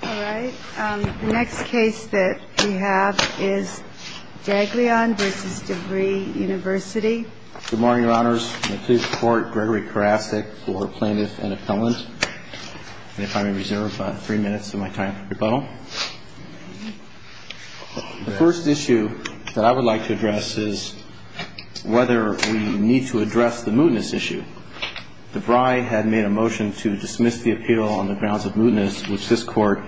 The first issue that I would like to address is whether we need to address the mootness issue. DeVry had made a motion to dismiss the appeal on the grounds of mootness, which this Court has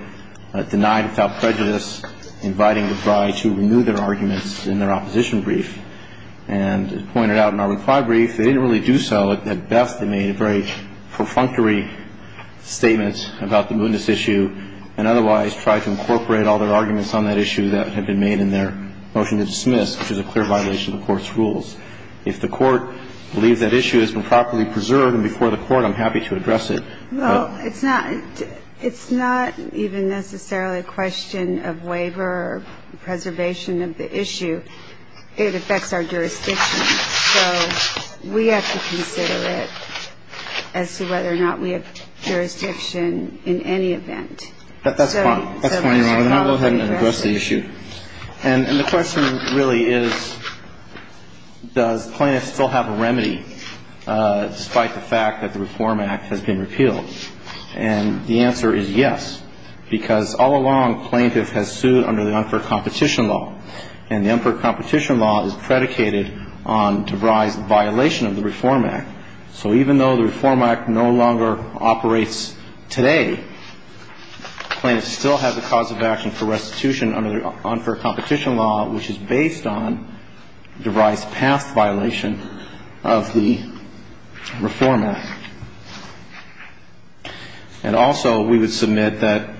rejected. If the Court believes that issue has been properly preserved and before the Court, I'm happy to address it. Well, it's not even necessarily a question of waiver or preservation of the issue. It affects our jurisdiction. So we have to consider it as to whether or not we have jurisdiction in any event. And the question really is, does plaintiff still have a remedy, despite the fact that the Reform Act has been repealed? And the answer is yes, because all along, plaintiff has sued under the unfair competition law, and the unfair competition law is predicated on DeVry's violation of the Reform Act. So even though the Reform Act no longer operates today, plaintiffs still have the cause of action for restitution under the unfair competition law, which is based on DeVry's past violation of the Reform Act. And also, we would submit that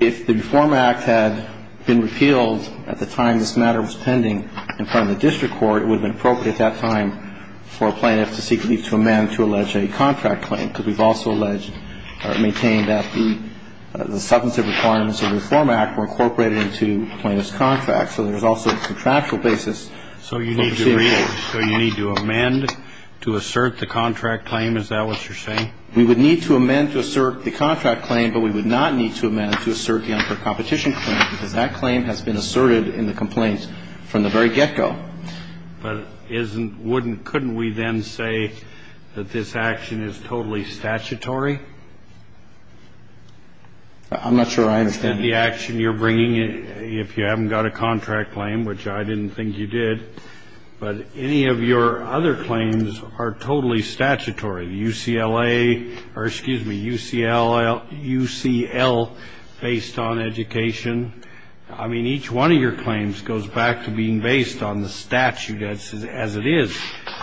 if the Reform Act had been repealed at the time this matter was pending in front of the district court, it would have been appropriate at that time for a plaintiff to seek leave to amend to allege a contract claim, because we've also alleged or maintained that the substantive requirements of the Reform Act were incorporated into plaintiff's contract. So there's also a contractual basis. So you need to read it. So you need to amend to assert the contract claim? Is that what you're saying? We would need to amend to assert the contract claim, but we would not need to amend to assert the unfair competition claim, because that claim has been asserted in the complaints from the very get-go. But isn't – wouldn't – couldn't we then say that this action is totally statutory? I'm not sure I understand. I understand the action you're bringing if you haven't got a contract claim, which I didn't think you did. But any of your other claims are totally statutory. UCLA – or, excuse me, UCLA – UCL, based on education. I mean, each one of your claims goes back to being based on the statute as it is.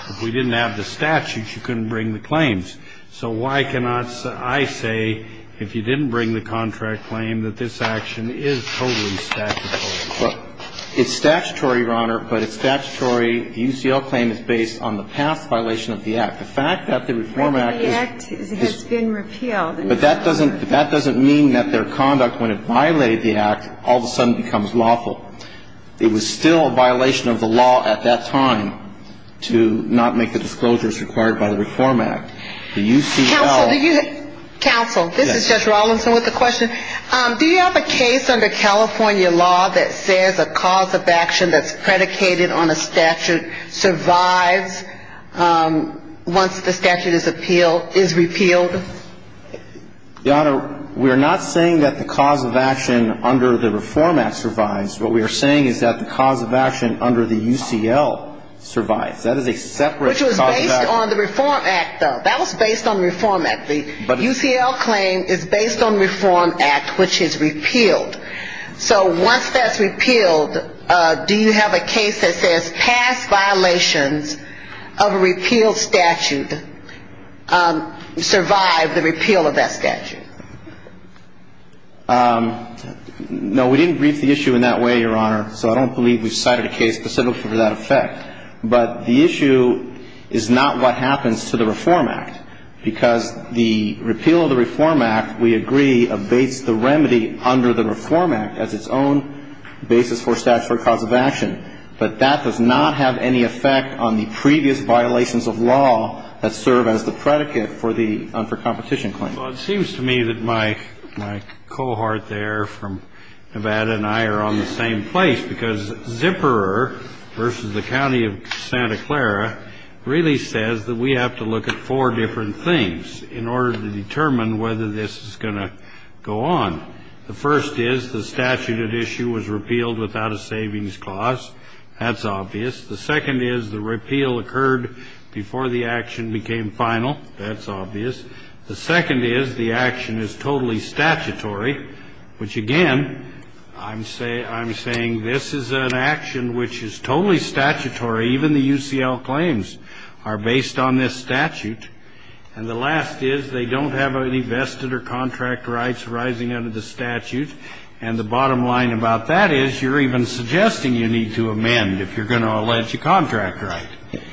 If we didn't have the statute, you couldn't bring the claims. So why cannot I say, if you didn't bring the contract claim, that this action is totally statutory? It's statutory, Your Honor, but it's statutory. The UCL claim is based on the past violation of the Act. The fact that the Reform Act is – But the Act has been repealed. But that doesn't mean that their conduct, when it violated the Act, all of a sudden becomes lawful. It was still a violation of the law at that time to not make the disclosures required by the Reform Act. The UCL – Counsel, this is Judge Rawlinson with a question. Do you have a case under California law that says a cause of action that's predicated on a statute survives once the statute is repealed? Your Honor, we are not saying that the cause of action under the Reform Act survives. What we are saying is that the cause of action under the UCL survives. That is a separate cause of action. Which was based on the Reform Act, though. That was based on the Reform Act. The UCL claim is based on the Reform Act, which is repealed. So once that's repealed, do you have a case that says past violations of a repealed statute survive the repeal of that statute? No, we didn't brief the issue in that way, Your Honor, so I don't believe we cited a case specific for that effect. But the issue is not what happens to the Reform Act. Because the repeal of the Reform Act, we agree, abates the remedy under the Reform Act as its own basis for statutory cause of action. But that does not have any effect on the previous violations of law that serve as the predicate for the unfair competition claim. Well, it seems to me that my cohort there from Nevada and I are on the same place. Because Zipperer v. The County of Santa Clara really says that we have to look at four different things in order to determine whether this is going to go on. The first is the statute at issue was repealed without a savings cost. That's obvious. The second is the repeal occurred before the action became final. That's obvious. The second is the action is totally statutory, which, again, I'm saying this is an action which is totally statutory. Even the UCL claims are based on this statute. And the last is they don't have any vested or contract rights rising under the statute. And the bottom line about that is you're even suggesting you need to amend if you're going to allege a contract right.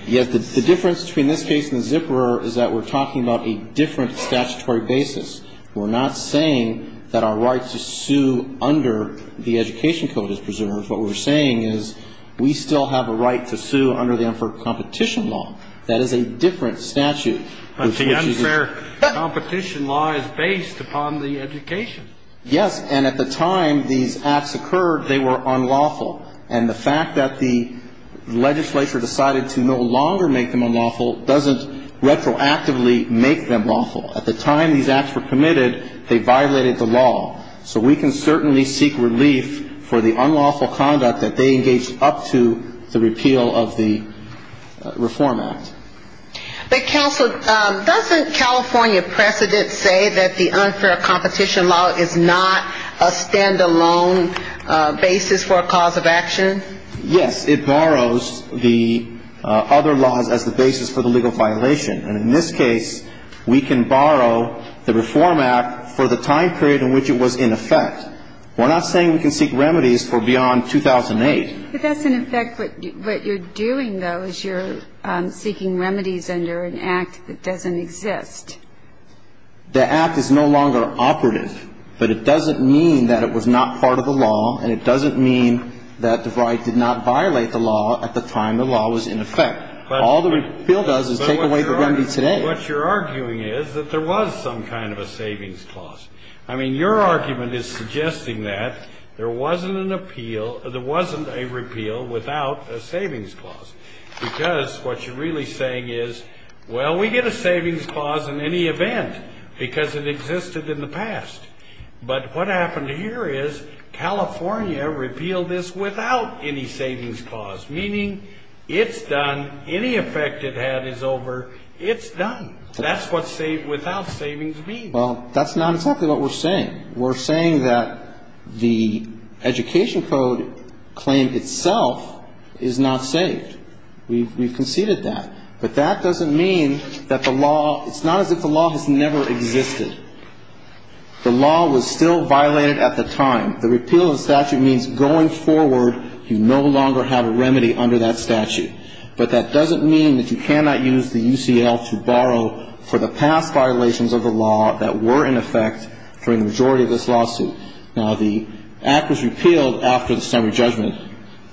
Yes. The difference between this case and Zipperer is that we're talking about a different statutory basis. We're not saying that our right to sue under the education code is preserved. What we're saying is we still have a right to sue under the unfair competition law. That is a different statute. But the unfair competition law is based upon the education. Yes. And at the time these acts occurred, they were unlawful. And the fact that the legislature decided to no longer make them unlawful doesn't retroactively make them unlawful. At the time these acts were committed, they violated the law. So we can certainly seek relief for the unlawful conduct that they engaged up to the repeal of the Reform Act. But counsel, doesn't California precedent say that the unfair competition law is not a stand-alone basis for a cause of action? Yes. It borrows the other laws as the basis for the legal violation. And in this case, we can borrow the Reform Act for the time period in which it was in effect. We're not saying we can seek remedies for beyond 2008. But that's, in effect, what you're doing, though, is you're seeking remedies under an act that doesn't exist. The act is no longer operative. But it doesn't mean that it was not part of the law, and it doesn't mean that the right did not violate the law at the time the law was in effect. All the repeal does is take away the remedy today. But what you're arguing is that there was some kind of a savings clause. I mean, your argument is suggesting that there wasn't an appeal or there wasn't a repeal without a savings clause. Because what you're really saying is, well, we get a savings clause in any event because it existed in the past. But what happened here is California repealed this without any savings clause, meaning it's done. Any effect it had is over. It's done. That's what saved without savings means. Well, that's not exactly what we're saying. We're saying that the Education Code claim itself is not saved. We've conceded that. But that doesn't mean that the law – it's not as if the law has never existed. The law was still violated at the time. The repeal of the statute means going forward you no longer have a remedy under that statute. But that doesn't mean that you cannot use the UCL to borrow for the past violations of the law that were in effect during the majority of this lawsuit. Now, the act was repealed after the summary judgment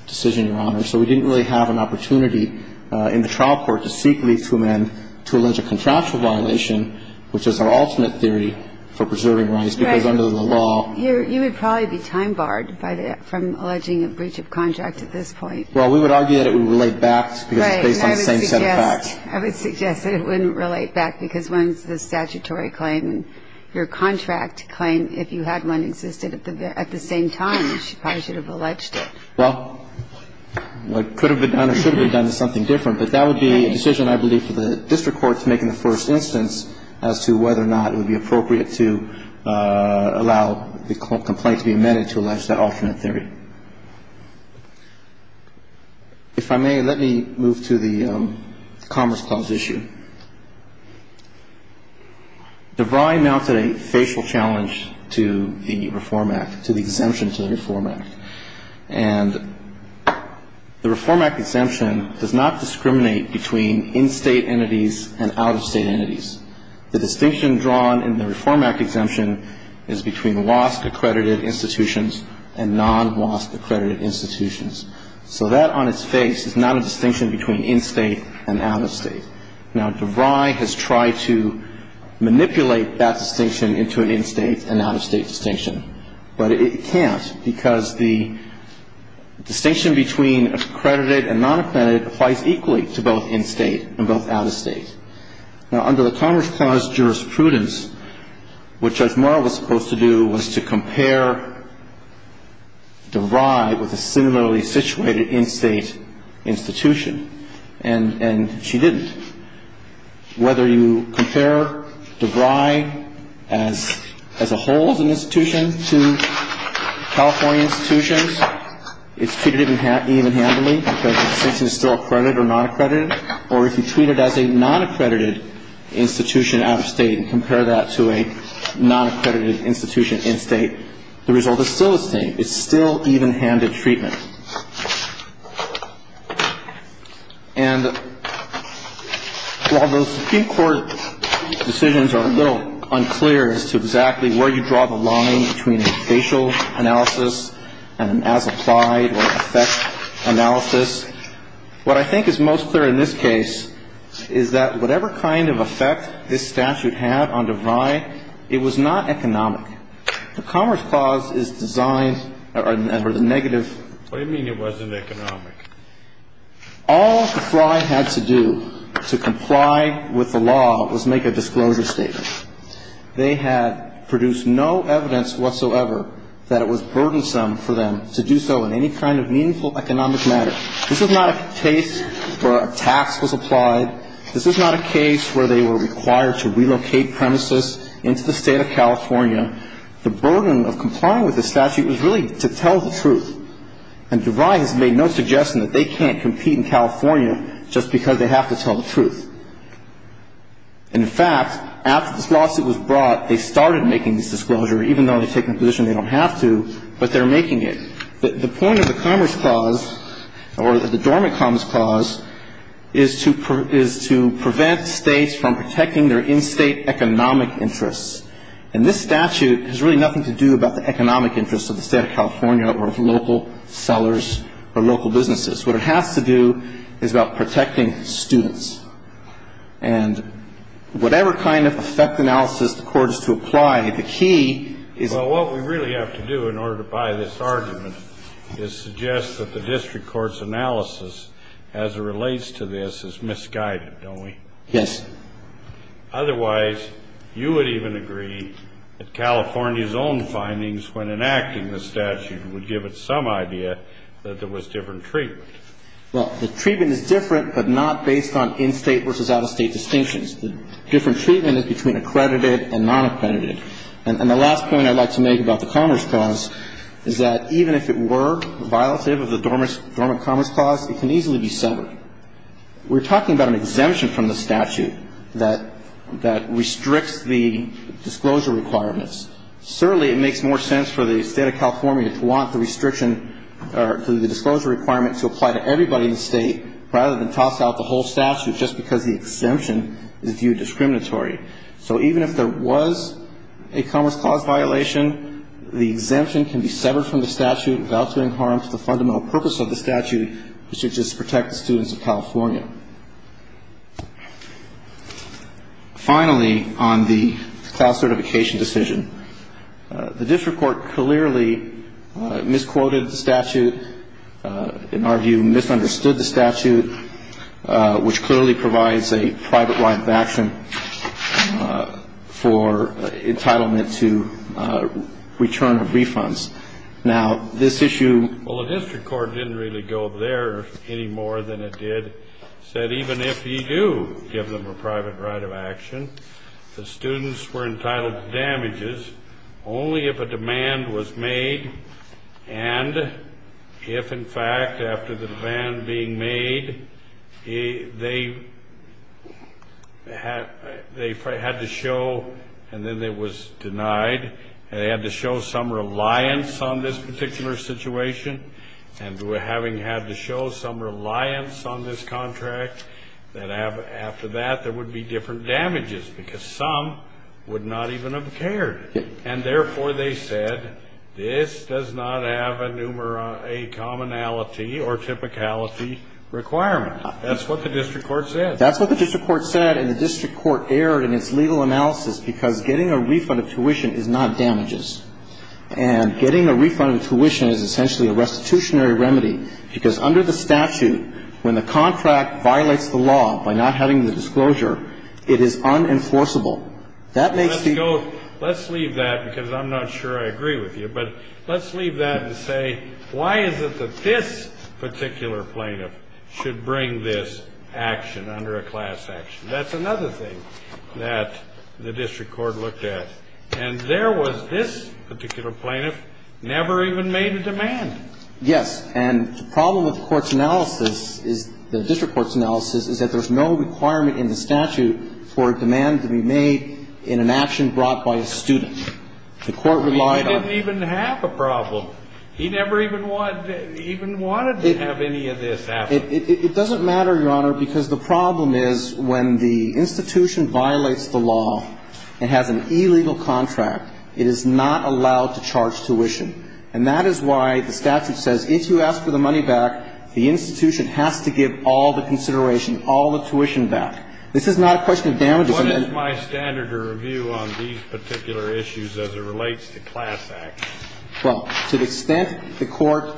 decision, Your Honor. So we didn't really have an opportunity in the trial court to seek leave to amend to allege a contractual violation, which is our alternate theory for preserving rights, because under the law – Right. You would probably be time-barred from alleging a breach of contract at this point. Well, we would argue that it would relate back because it's based on the same set of facts. Right. And I would suggest that it wouldn't relate back because when the statutory claim, your contract claim, if you had one existed at the same time, you probably should have alleged it. Well, what could have been done or should have been done is something different. But that would be a decision, I believe, for the district court to make in the first instance as to whether or not it would be appropriate to allow the complaint to be amended to allege that alternate theory. If I may, let me move to the Commerce Clause issue. DeVry mounted a facial challenge to the Reform Act, to the exemption to the Reform Act. And the Reform Act exemption does not discriminate between in-State entities and out-of-State entities. The distinction drawn in the Reform Act exemption is between WASC-accredited institutions and non-WASC-accredited institutions. So that on its face is not a distinction between in-State and out-of-State. Now, DeVry has tried to manipulate that distinction into an in-State and out-of-State distinction. But it can't because the distinction between accredited and non-accredited applies equally to both in-State and both out-of-State. Now, under the Commerce Clause jurisprudence, what Judge Marl was supposed to do was to compare DeVry with a similarly situated in-State institution. And she didn't. Whether you compare DeVry as a whole as an institution to California institutions, it's treated even-handedly because the distinction is still accredited or non-accredited. Or if you treat it as a non-accredited institution out-of-State and compare that to a non-accredited institution in-State, the result is still the same. It's still even-handed treatment. And while those Supreme Court decisions are a little unclear as to exactly where you draw the line between a facial analysis and an as-applied or effect analysis, what I think is most clear in this case is that whatever kind of effect this statute had on DeVry, it was not economic. The Commerce Clause is designed for the negative. What do you mean it wasn't economic? All DeVry had to do to comply with the law was make a disclosure statement. They had produced no evidence whatsoever that it was burdensome for them to do so in any kind of meaningful economic matter. This is not a case where a tax was applied. This is not a case where they were required to relocate premises into the State of California. The burden of complying with the statute was really to tell the truth. And DeVry has made no suggestion that they can't compete in California just because they have to tell the truth. And, in fact, after this lawsuit was brought, they started making this disclosure, even though they've taken a position they don't have to, but they're making it. The point of the Commerce Clause, or the Dormant Commerce Clause, is to prevent States from protecting their in-State economic interests. And this statute has really nothing to do about the economic interests of the State of California or of local sellers or local businesses. What it has to do is about protecting students. And whatever kind of effect analysis the Court is to apply, the key is to protect students. And the fact that the statute is different is suggest that the district court's analysis as it relates to this is misguided, don't we? Yes. Otherwise, you would even agree that California's own findings when enacting the statute would give it some idea that there was different treatment. Well, the treatment is different, but not based on in-State versus out-of-State distinctions. The different treatment is between accredited and nonaccredited. And the last point I'd like to make about the Commerce Clause is that even if it were violative of the Dormant Commerce Clause, it can easily be severed. We're talking about an exemption from the statute that restricts the disclosure requirements. Certainly, it makes more sense for the State of California to want the restriction or the disclosure requirement to apply to everybody in the State rather than toss out the whole statute just because the exemption is viewed discriminatory. So even if there was a Commerce Clause violation, the exemption can be severed from the statute without doing harm to the fundamental purpose of the statute, which is to protect the students of California. Finally, on the class certification decision, the district court clearly misquoted the statute, in our view, misunderstood the statute, which clearly provides a private right of action for entitlement to return of refunds. Now, this issue — Well, the district court didn't really go there any more than it did, said even if you do give them a private right of action, the students were entitled to damages only if a demand was made, and if, in fact, after the demand being made, they had to show — and then it was denied — they had to show some reliance on this particular situation, and having had to show some reliance on this contract, that after that, there would be different damages, because some would not even have cared. And therefore, they said, this does not have a commonality or typicality requirement. That's what the district court said. That's what the district court said, and the district court erred in its legal analysis because getting a refund of tuition is not damages. And what it does is it gets the plaintiff to show a demand, And the district court found this to be a good thing, because under the statute, when the contract violates the law by not having the disclosure, it is unenforceable. That makes the — Let's go — let's leave that, because I'm not sure I agree with you, but let's leave that and say, why is it that this particular plaintiff should bring this action under a class action? That's another thing that the district court looked at. And there was this particular plaintiff never even made a demand. Yes. And the problem with the court's analysis, the district court's analysis, is that there's no requirement in the statute for a demand to be made in an action brought by a student. The court relied on — I mean, he didn't even have a problem. He never even wanted to have any of this happen. It doesn't matter, Your Honor, because the problem is when the institution violates the law and has an illegal contract, it is not allowed to charge tuition. And that is why the statute says if you ask for the money back, the institution has to give all the consideration, all the tuition back. This is not a question of damages. What is my standard of review on these particular issues as it relates to class action? Well, to the extent the court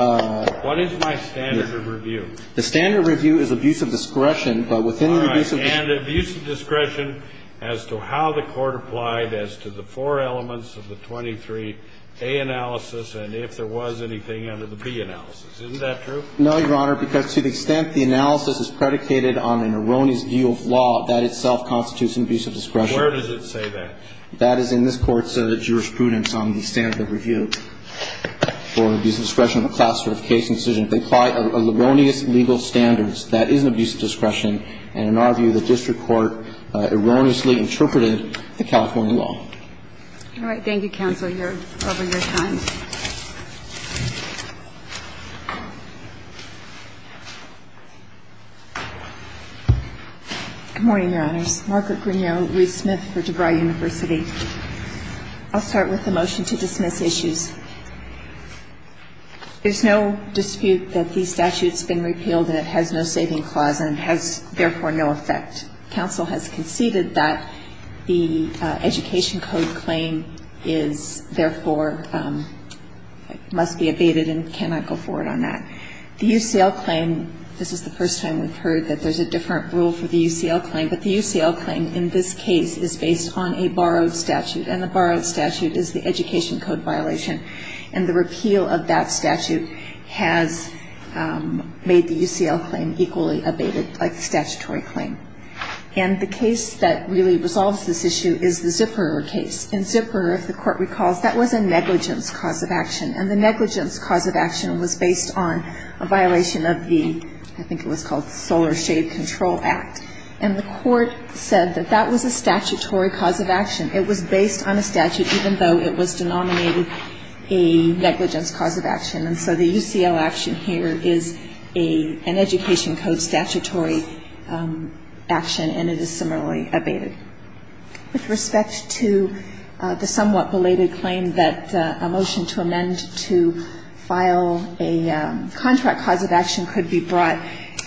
— What is my standard of review? The standard review is abuse of discretion, but within the abuse of — All right. And abuse of discretion as to how the court applied as to the four elements of the 23A analysis and if there was anything under the B analysis. Isn't that true? No, Your Honor, because to the extent the analysis is predicated on an erroneous review of law, that itself constitutes an abuse of discretion. Where does it say that? That is in this Court's jurisprudence on the standard of review for abuse of discretion on the class sort of case incision. They apply erroneous legal standards. That is an abuse of discretion. And in our view, the district court erroneously interpreted the California law. All right. Thank you, counsel. You're over your time. Good morning, Your Honors. Margaret Grignot, Ruth Smith for DeVry University. I'll start with the motion to dismiss issues. There's no dispute that the statute's been repealed and it has no saving clause and it has, therefore, no effect. Counsel has conceded that the Education Code claim is, therefore, must be abated and cannot go forward on that. The UCL claim, this is the first time we've heard that there's a different rule for the UCL claim, but the UCL claim in this case is based on a borrowed statute and the borrowed statute is the Education Code violation. And the repeal of that statute has made the UCL claim equally abated like the statutory claim. And the case that really resolves this issue is the Zipper case. In Zipper, if the court recalls, that was a negligence cause of action and the negligence cause of action was based on a violation of the, I think it was called Solar Shade Control Act. And the court said that that was a statutory cause of action. It was based on a statute even though it was denominated a negligence cause of action. And so the UCL action here is an Education Code statutory action and it is similarly abated. With respect to the somewhat belated claim that a motion to amend to file a contract cause of action could be brought,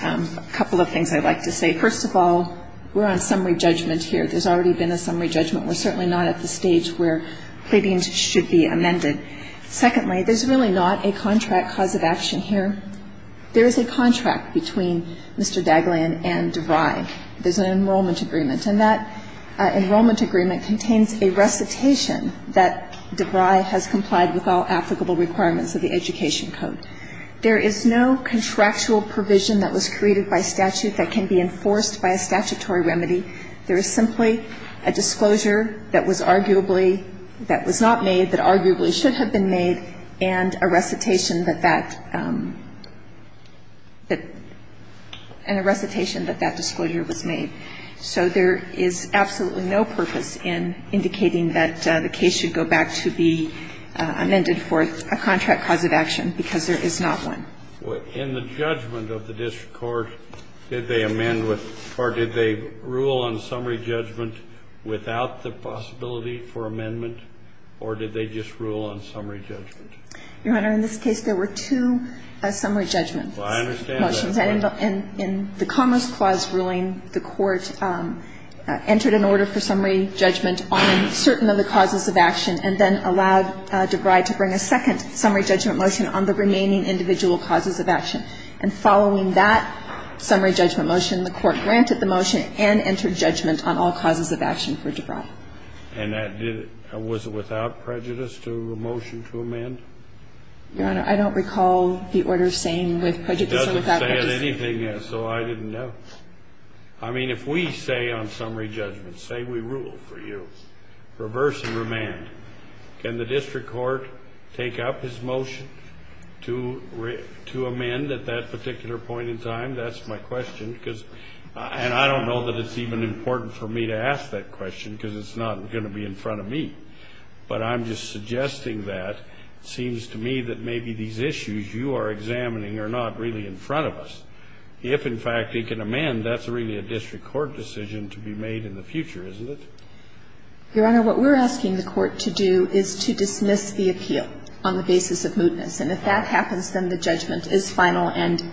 a couple of things I'd like to say. First of all, we're on summary judgment here. There's already been a summary judgment. We're certainly not at the stage where pleadings should be amended. Secondly, there's really not a contract cause of action here. There is a contract between Mr. Daglan and DeVry. There's an enrollment agreement. And that enrollment agreement contains a recitation that DeVry has complied with all applicable requirements of the Education Code. There is no contractual provision that was created by statute that can be enforced by a statutory remedy. There is simply a disclosure that was arguably, that was not made, that arguably should have been made, and a recitation that that, that, and a recitation that that disclosure was made. So there is absolutely no purpose in indicating that the case should go back to be amended for a contract cause of action, because there is not one. In the judgment of the district court, did they amend with, or did they rule on summary judgment without the possibility for amendment, or did they just rule on summary judgment? Your Honor, in this case, there were two summary judgment motions. Well, I understand that. In the Commerce Clause ruling, the Court entered an order for summary judgment on certain of the causes of action and then allowed DeVry to bring a second summary judgment motion on the remaining individual causes of action. And following that summary judgment motion, the Court granted the motion and entered judgment on all causes of action for DeVry. And that did it. Was it without prejudice to a motion to amend? I didn't say anything, so I didn't know. I mean, if we say on summary judgment, say we rule for you, reverse and remand, can the district court take up his motion to, to amend at that particular point in time? That's my question, because, and I don't know that it's even important for me to ask that question, because it's not going to be in front of me. But I'm just suggesting that. It seems to me that maybe these issues you are examining are not really in front of us. If, in fact, he can amend, that's really a district court decision to be made in the future, isn't it? Your Honor, what we're asking the Court to do is to dismiss the appeal on the basis of mootness. And if that happens, then the judgment is final and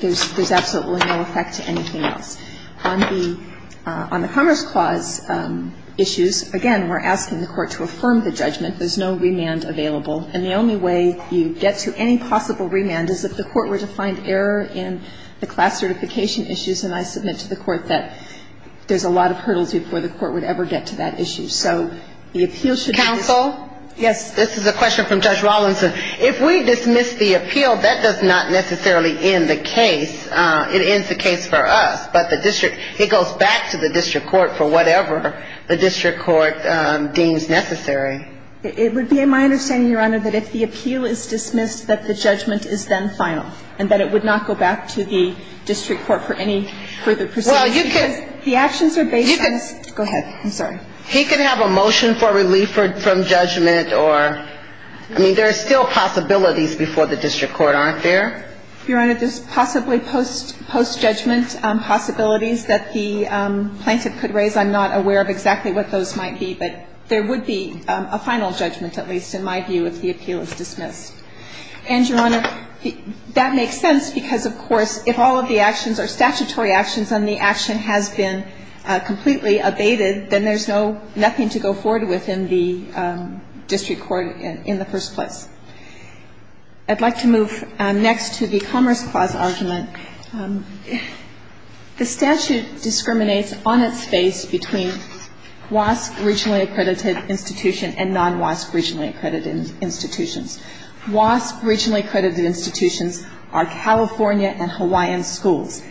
there's absolutely no effect to anything else. On the Commerce Clause issues, again, we're asking the Court to affirm the judgment. There's no remand available. And the only way you get to any possible remand is if the Court were to find error in the class certification issues. And I submit to the Court that there's a lot of hurdles before the Court would ever get to that issue. So the appeal should be the same. Counsel? Yes. This is a question from Judge Rawlinson. If we dismiss the appeal, that does not necessarily end the case. It ends the case for us. But the district, it goes back to the district court for whatever the district court deems necessary. It would be my understanding, Your Honor, that if the appeal is dismissed, that the judgment is then final and that it would not go back to the district court for any further proceedings. Well, you could – The actions are based on – You could – Go ahead. I'm sorry. He could have a motion for relief from judgment or – I mean, there are still possibilities before the district court, aren't there? Your Honor, there's possibly post-judgment possibilities that the plaintiff could raise. I'm not aware of exactly what those might be, but there would be a final judgment, at least in my view, if the appeal is dismissed. And, Your Honor, that makes sense because, of course, if all of the actions are statutory actions and the action has been completely abated, then there's no – nothing to go forward with in the district court in the first place. I'd like to move next to the Commerce Clause argument. The statute discriminates on its face between WASC regionally accredited institution and non-WASC regionally accredited institutions. WASC regionally accredited institutions are California and Hawaiian schools.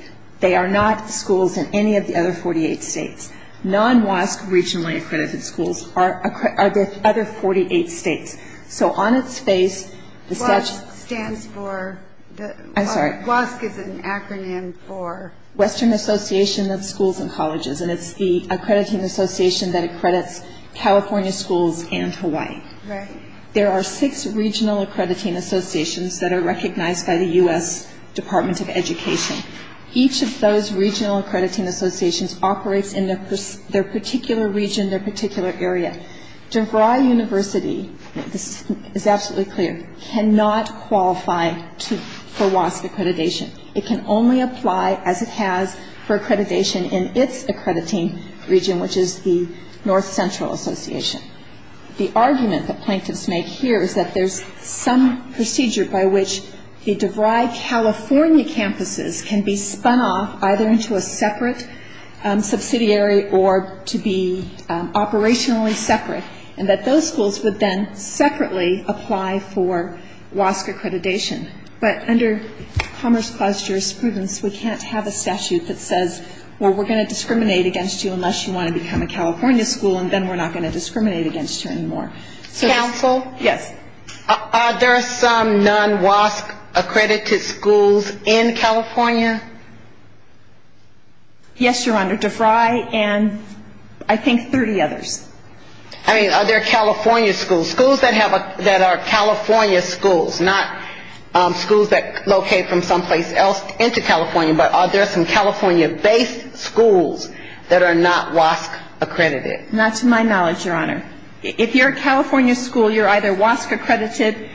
They are not schools in any of the other 48 states. Non-WASC regionally accredited schools are the other 48 states. So on its face, the statute – WASC stands for the – I'm sorry. WASC is an acronym for Western Association of Schools and Colleges, and it's the accrediting association that accredits California schools and Hawaii. Right. There are six regional accrediting associations that are recognized by the U.S. Department of Education. Each of those regional accrediting associations operates in their particular region, their particular area. DeVry University – this is absolutely clear – cannot qualify for WASC accreditation. It can only apply, as it has, for accreditation in its accrediting region, which is the North Central Association. The argument that plaintiffs make here is that there's some procedure by which the DeVry California campuses can be spun off either into a separate subsidiary or to be operationally separate, and that those schools would then separately apply for WASC accreditation. But under Commerce Clause jurisprudence, we can't have a statute that says, well, we're going to discriminate against you unless you want to become a California school, and then we're not going to discriminate against you anymore. Counsel? Yes. Are there some non-WASC accredited schools in California? Yes, Your Honor. DeVry and I think 30 others. I mean, are there California schools, schools that are California schools, not schools that locate from someplace else into California, but are there some California-based schools that are not WASC accredited? Not to my knowledge, Your Honor. If you're a California school, you're either WASC accredited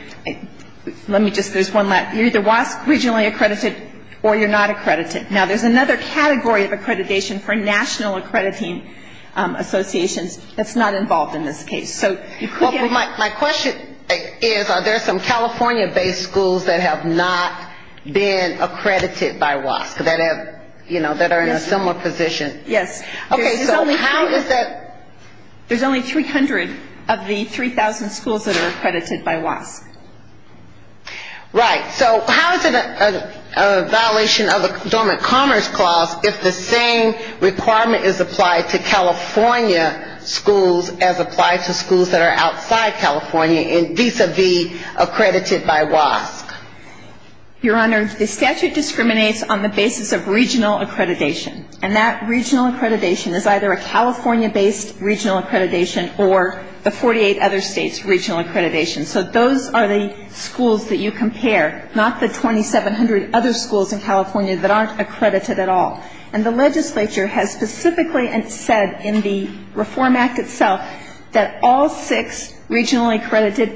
– let me just – there's one last – you're either WASC regionally accredited or you're not accredited. Now, there's another category of accreditation for national accrediting associations that's not involved in this case. Well, my question is, are there some California-based schools that have not been accredited by WASC, that are in a similar position? Yes. Okay, so how is that – There's only 300 of the 3,000 schools that are accredited by WASC. Right. So how is it a violation of the Dormant Commerce Clause if the same requirement is applied to California schools as applied to schools that are outside California, and vis-a-vis accredited by WASC? Your Honor, the statute discriminates on the basis of regional accreditation, and that regional accreditation is either a California-based regional accreditation or the 48 other states' regional accreditation. So those are the schools that you compare, not the 2,700 other schools in California that aren't accredited at all. And the legislature has specifically said in the Reform Act itself that all six regionally accredited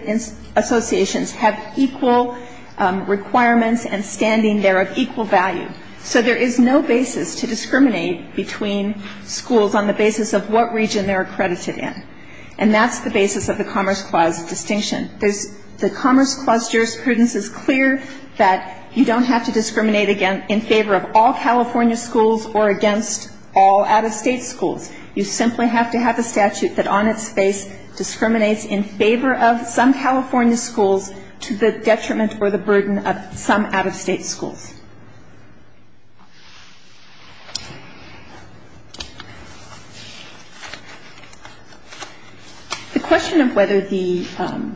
associations have equal requirements and standing there of equal value. So there is no basis to discriminate between schools on the basis of what region they're accredited in, and that's the basis of the Commerce Clause distinction. The Commerce Clause jurisprudence is clear that you don't have to discriminate in favor of all California schools or against all out-of-state schools. You simply have to have a statute that on its face discriminates in favor of some California schools to the detriment or the burden of some out-of-state schools. The question of whether the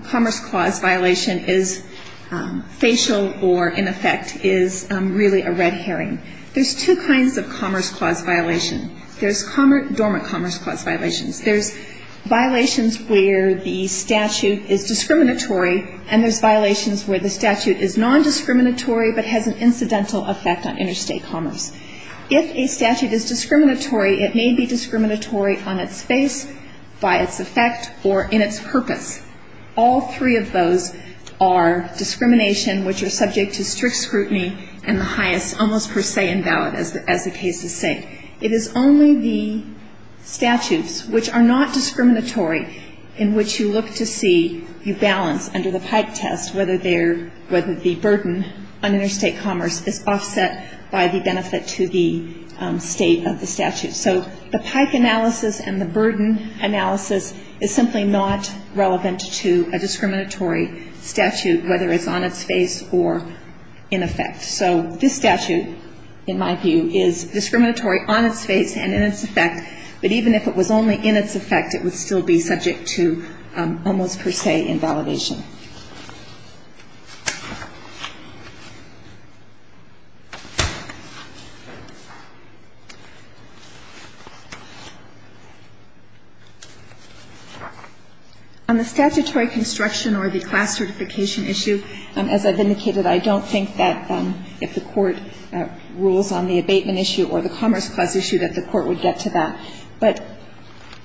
Commerce Clause violation is facial or in effect is really a red herring. There's two kinds of Commerce Clause violation. There's dormant Commerce Clause violations. There's violations where the statute is discriminatory, and there's violations where the statute is nondiscriminatory but has an incidental effect on interstate commerce. If a statute is discriminatory, it may be discriminatory on its face, by its effect, or in its purpose. All three of those are discrimination which are subject to strict scrutiny and the highest almost per se invalid, as the cases say. It is only the statutes which are not discriminatory in which you look to see you balance under the Pike test whether the burden on interstate commerce is offset by the benefit to the state of the statute. So the Pike analysis and the burden analysis is simply not relevant to a discriminatory statute, whether it's on its face or in effect. So this statute, in my view, is discriminatory on its face and in its effect, but even if it was only in its effect, it would still be subject to almost per se invalidation. On the statutory construction or the class certification issue, as I've indicated, I don't think that if the Court rules on the abatement issue or the Commerce Clause issue that the Court would get to that. But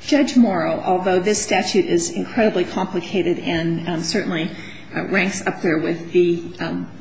Judge Morrow, although this statute is incredibly complicated and certainly ranks up there with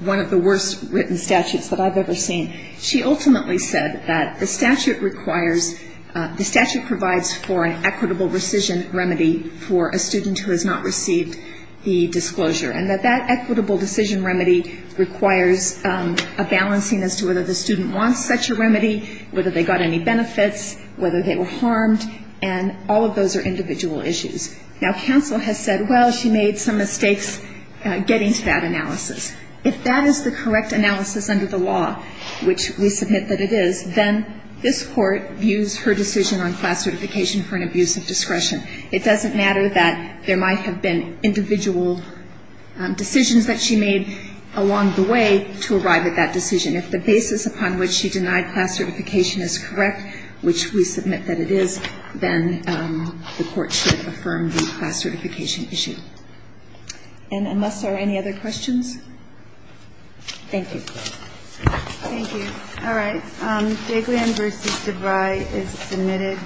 one of the worst written statutes that I've ever seen, she ultimately said that the statute requires, the statute provides for an equitable rescission remedy for a student who has not received the disclosure and that that equitable decision remedy requires a balancing as to whether the student wants such a remedy, whether they got any benefits, whether they were harmed, and all of those are individual issues. Now, counsel has said, well, she made some mistakes getting to that analysis. If that is the correct analysis under the law, which we submit that it is, then this Court views her decision on class certification for an abuse of discretion. It doesn't matter that there might have been individual decisions that she made along the way to arrive at that decision. If the basis upon which she denied class certification is correct, which we submit that it is, then the Court should affirm the class certification issue. And unless there are any other questions? Thank you. Thank you. All right. J. Glenn v. DeVry is submitted.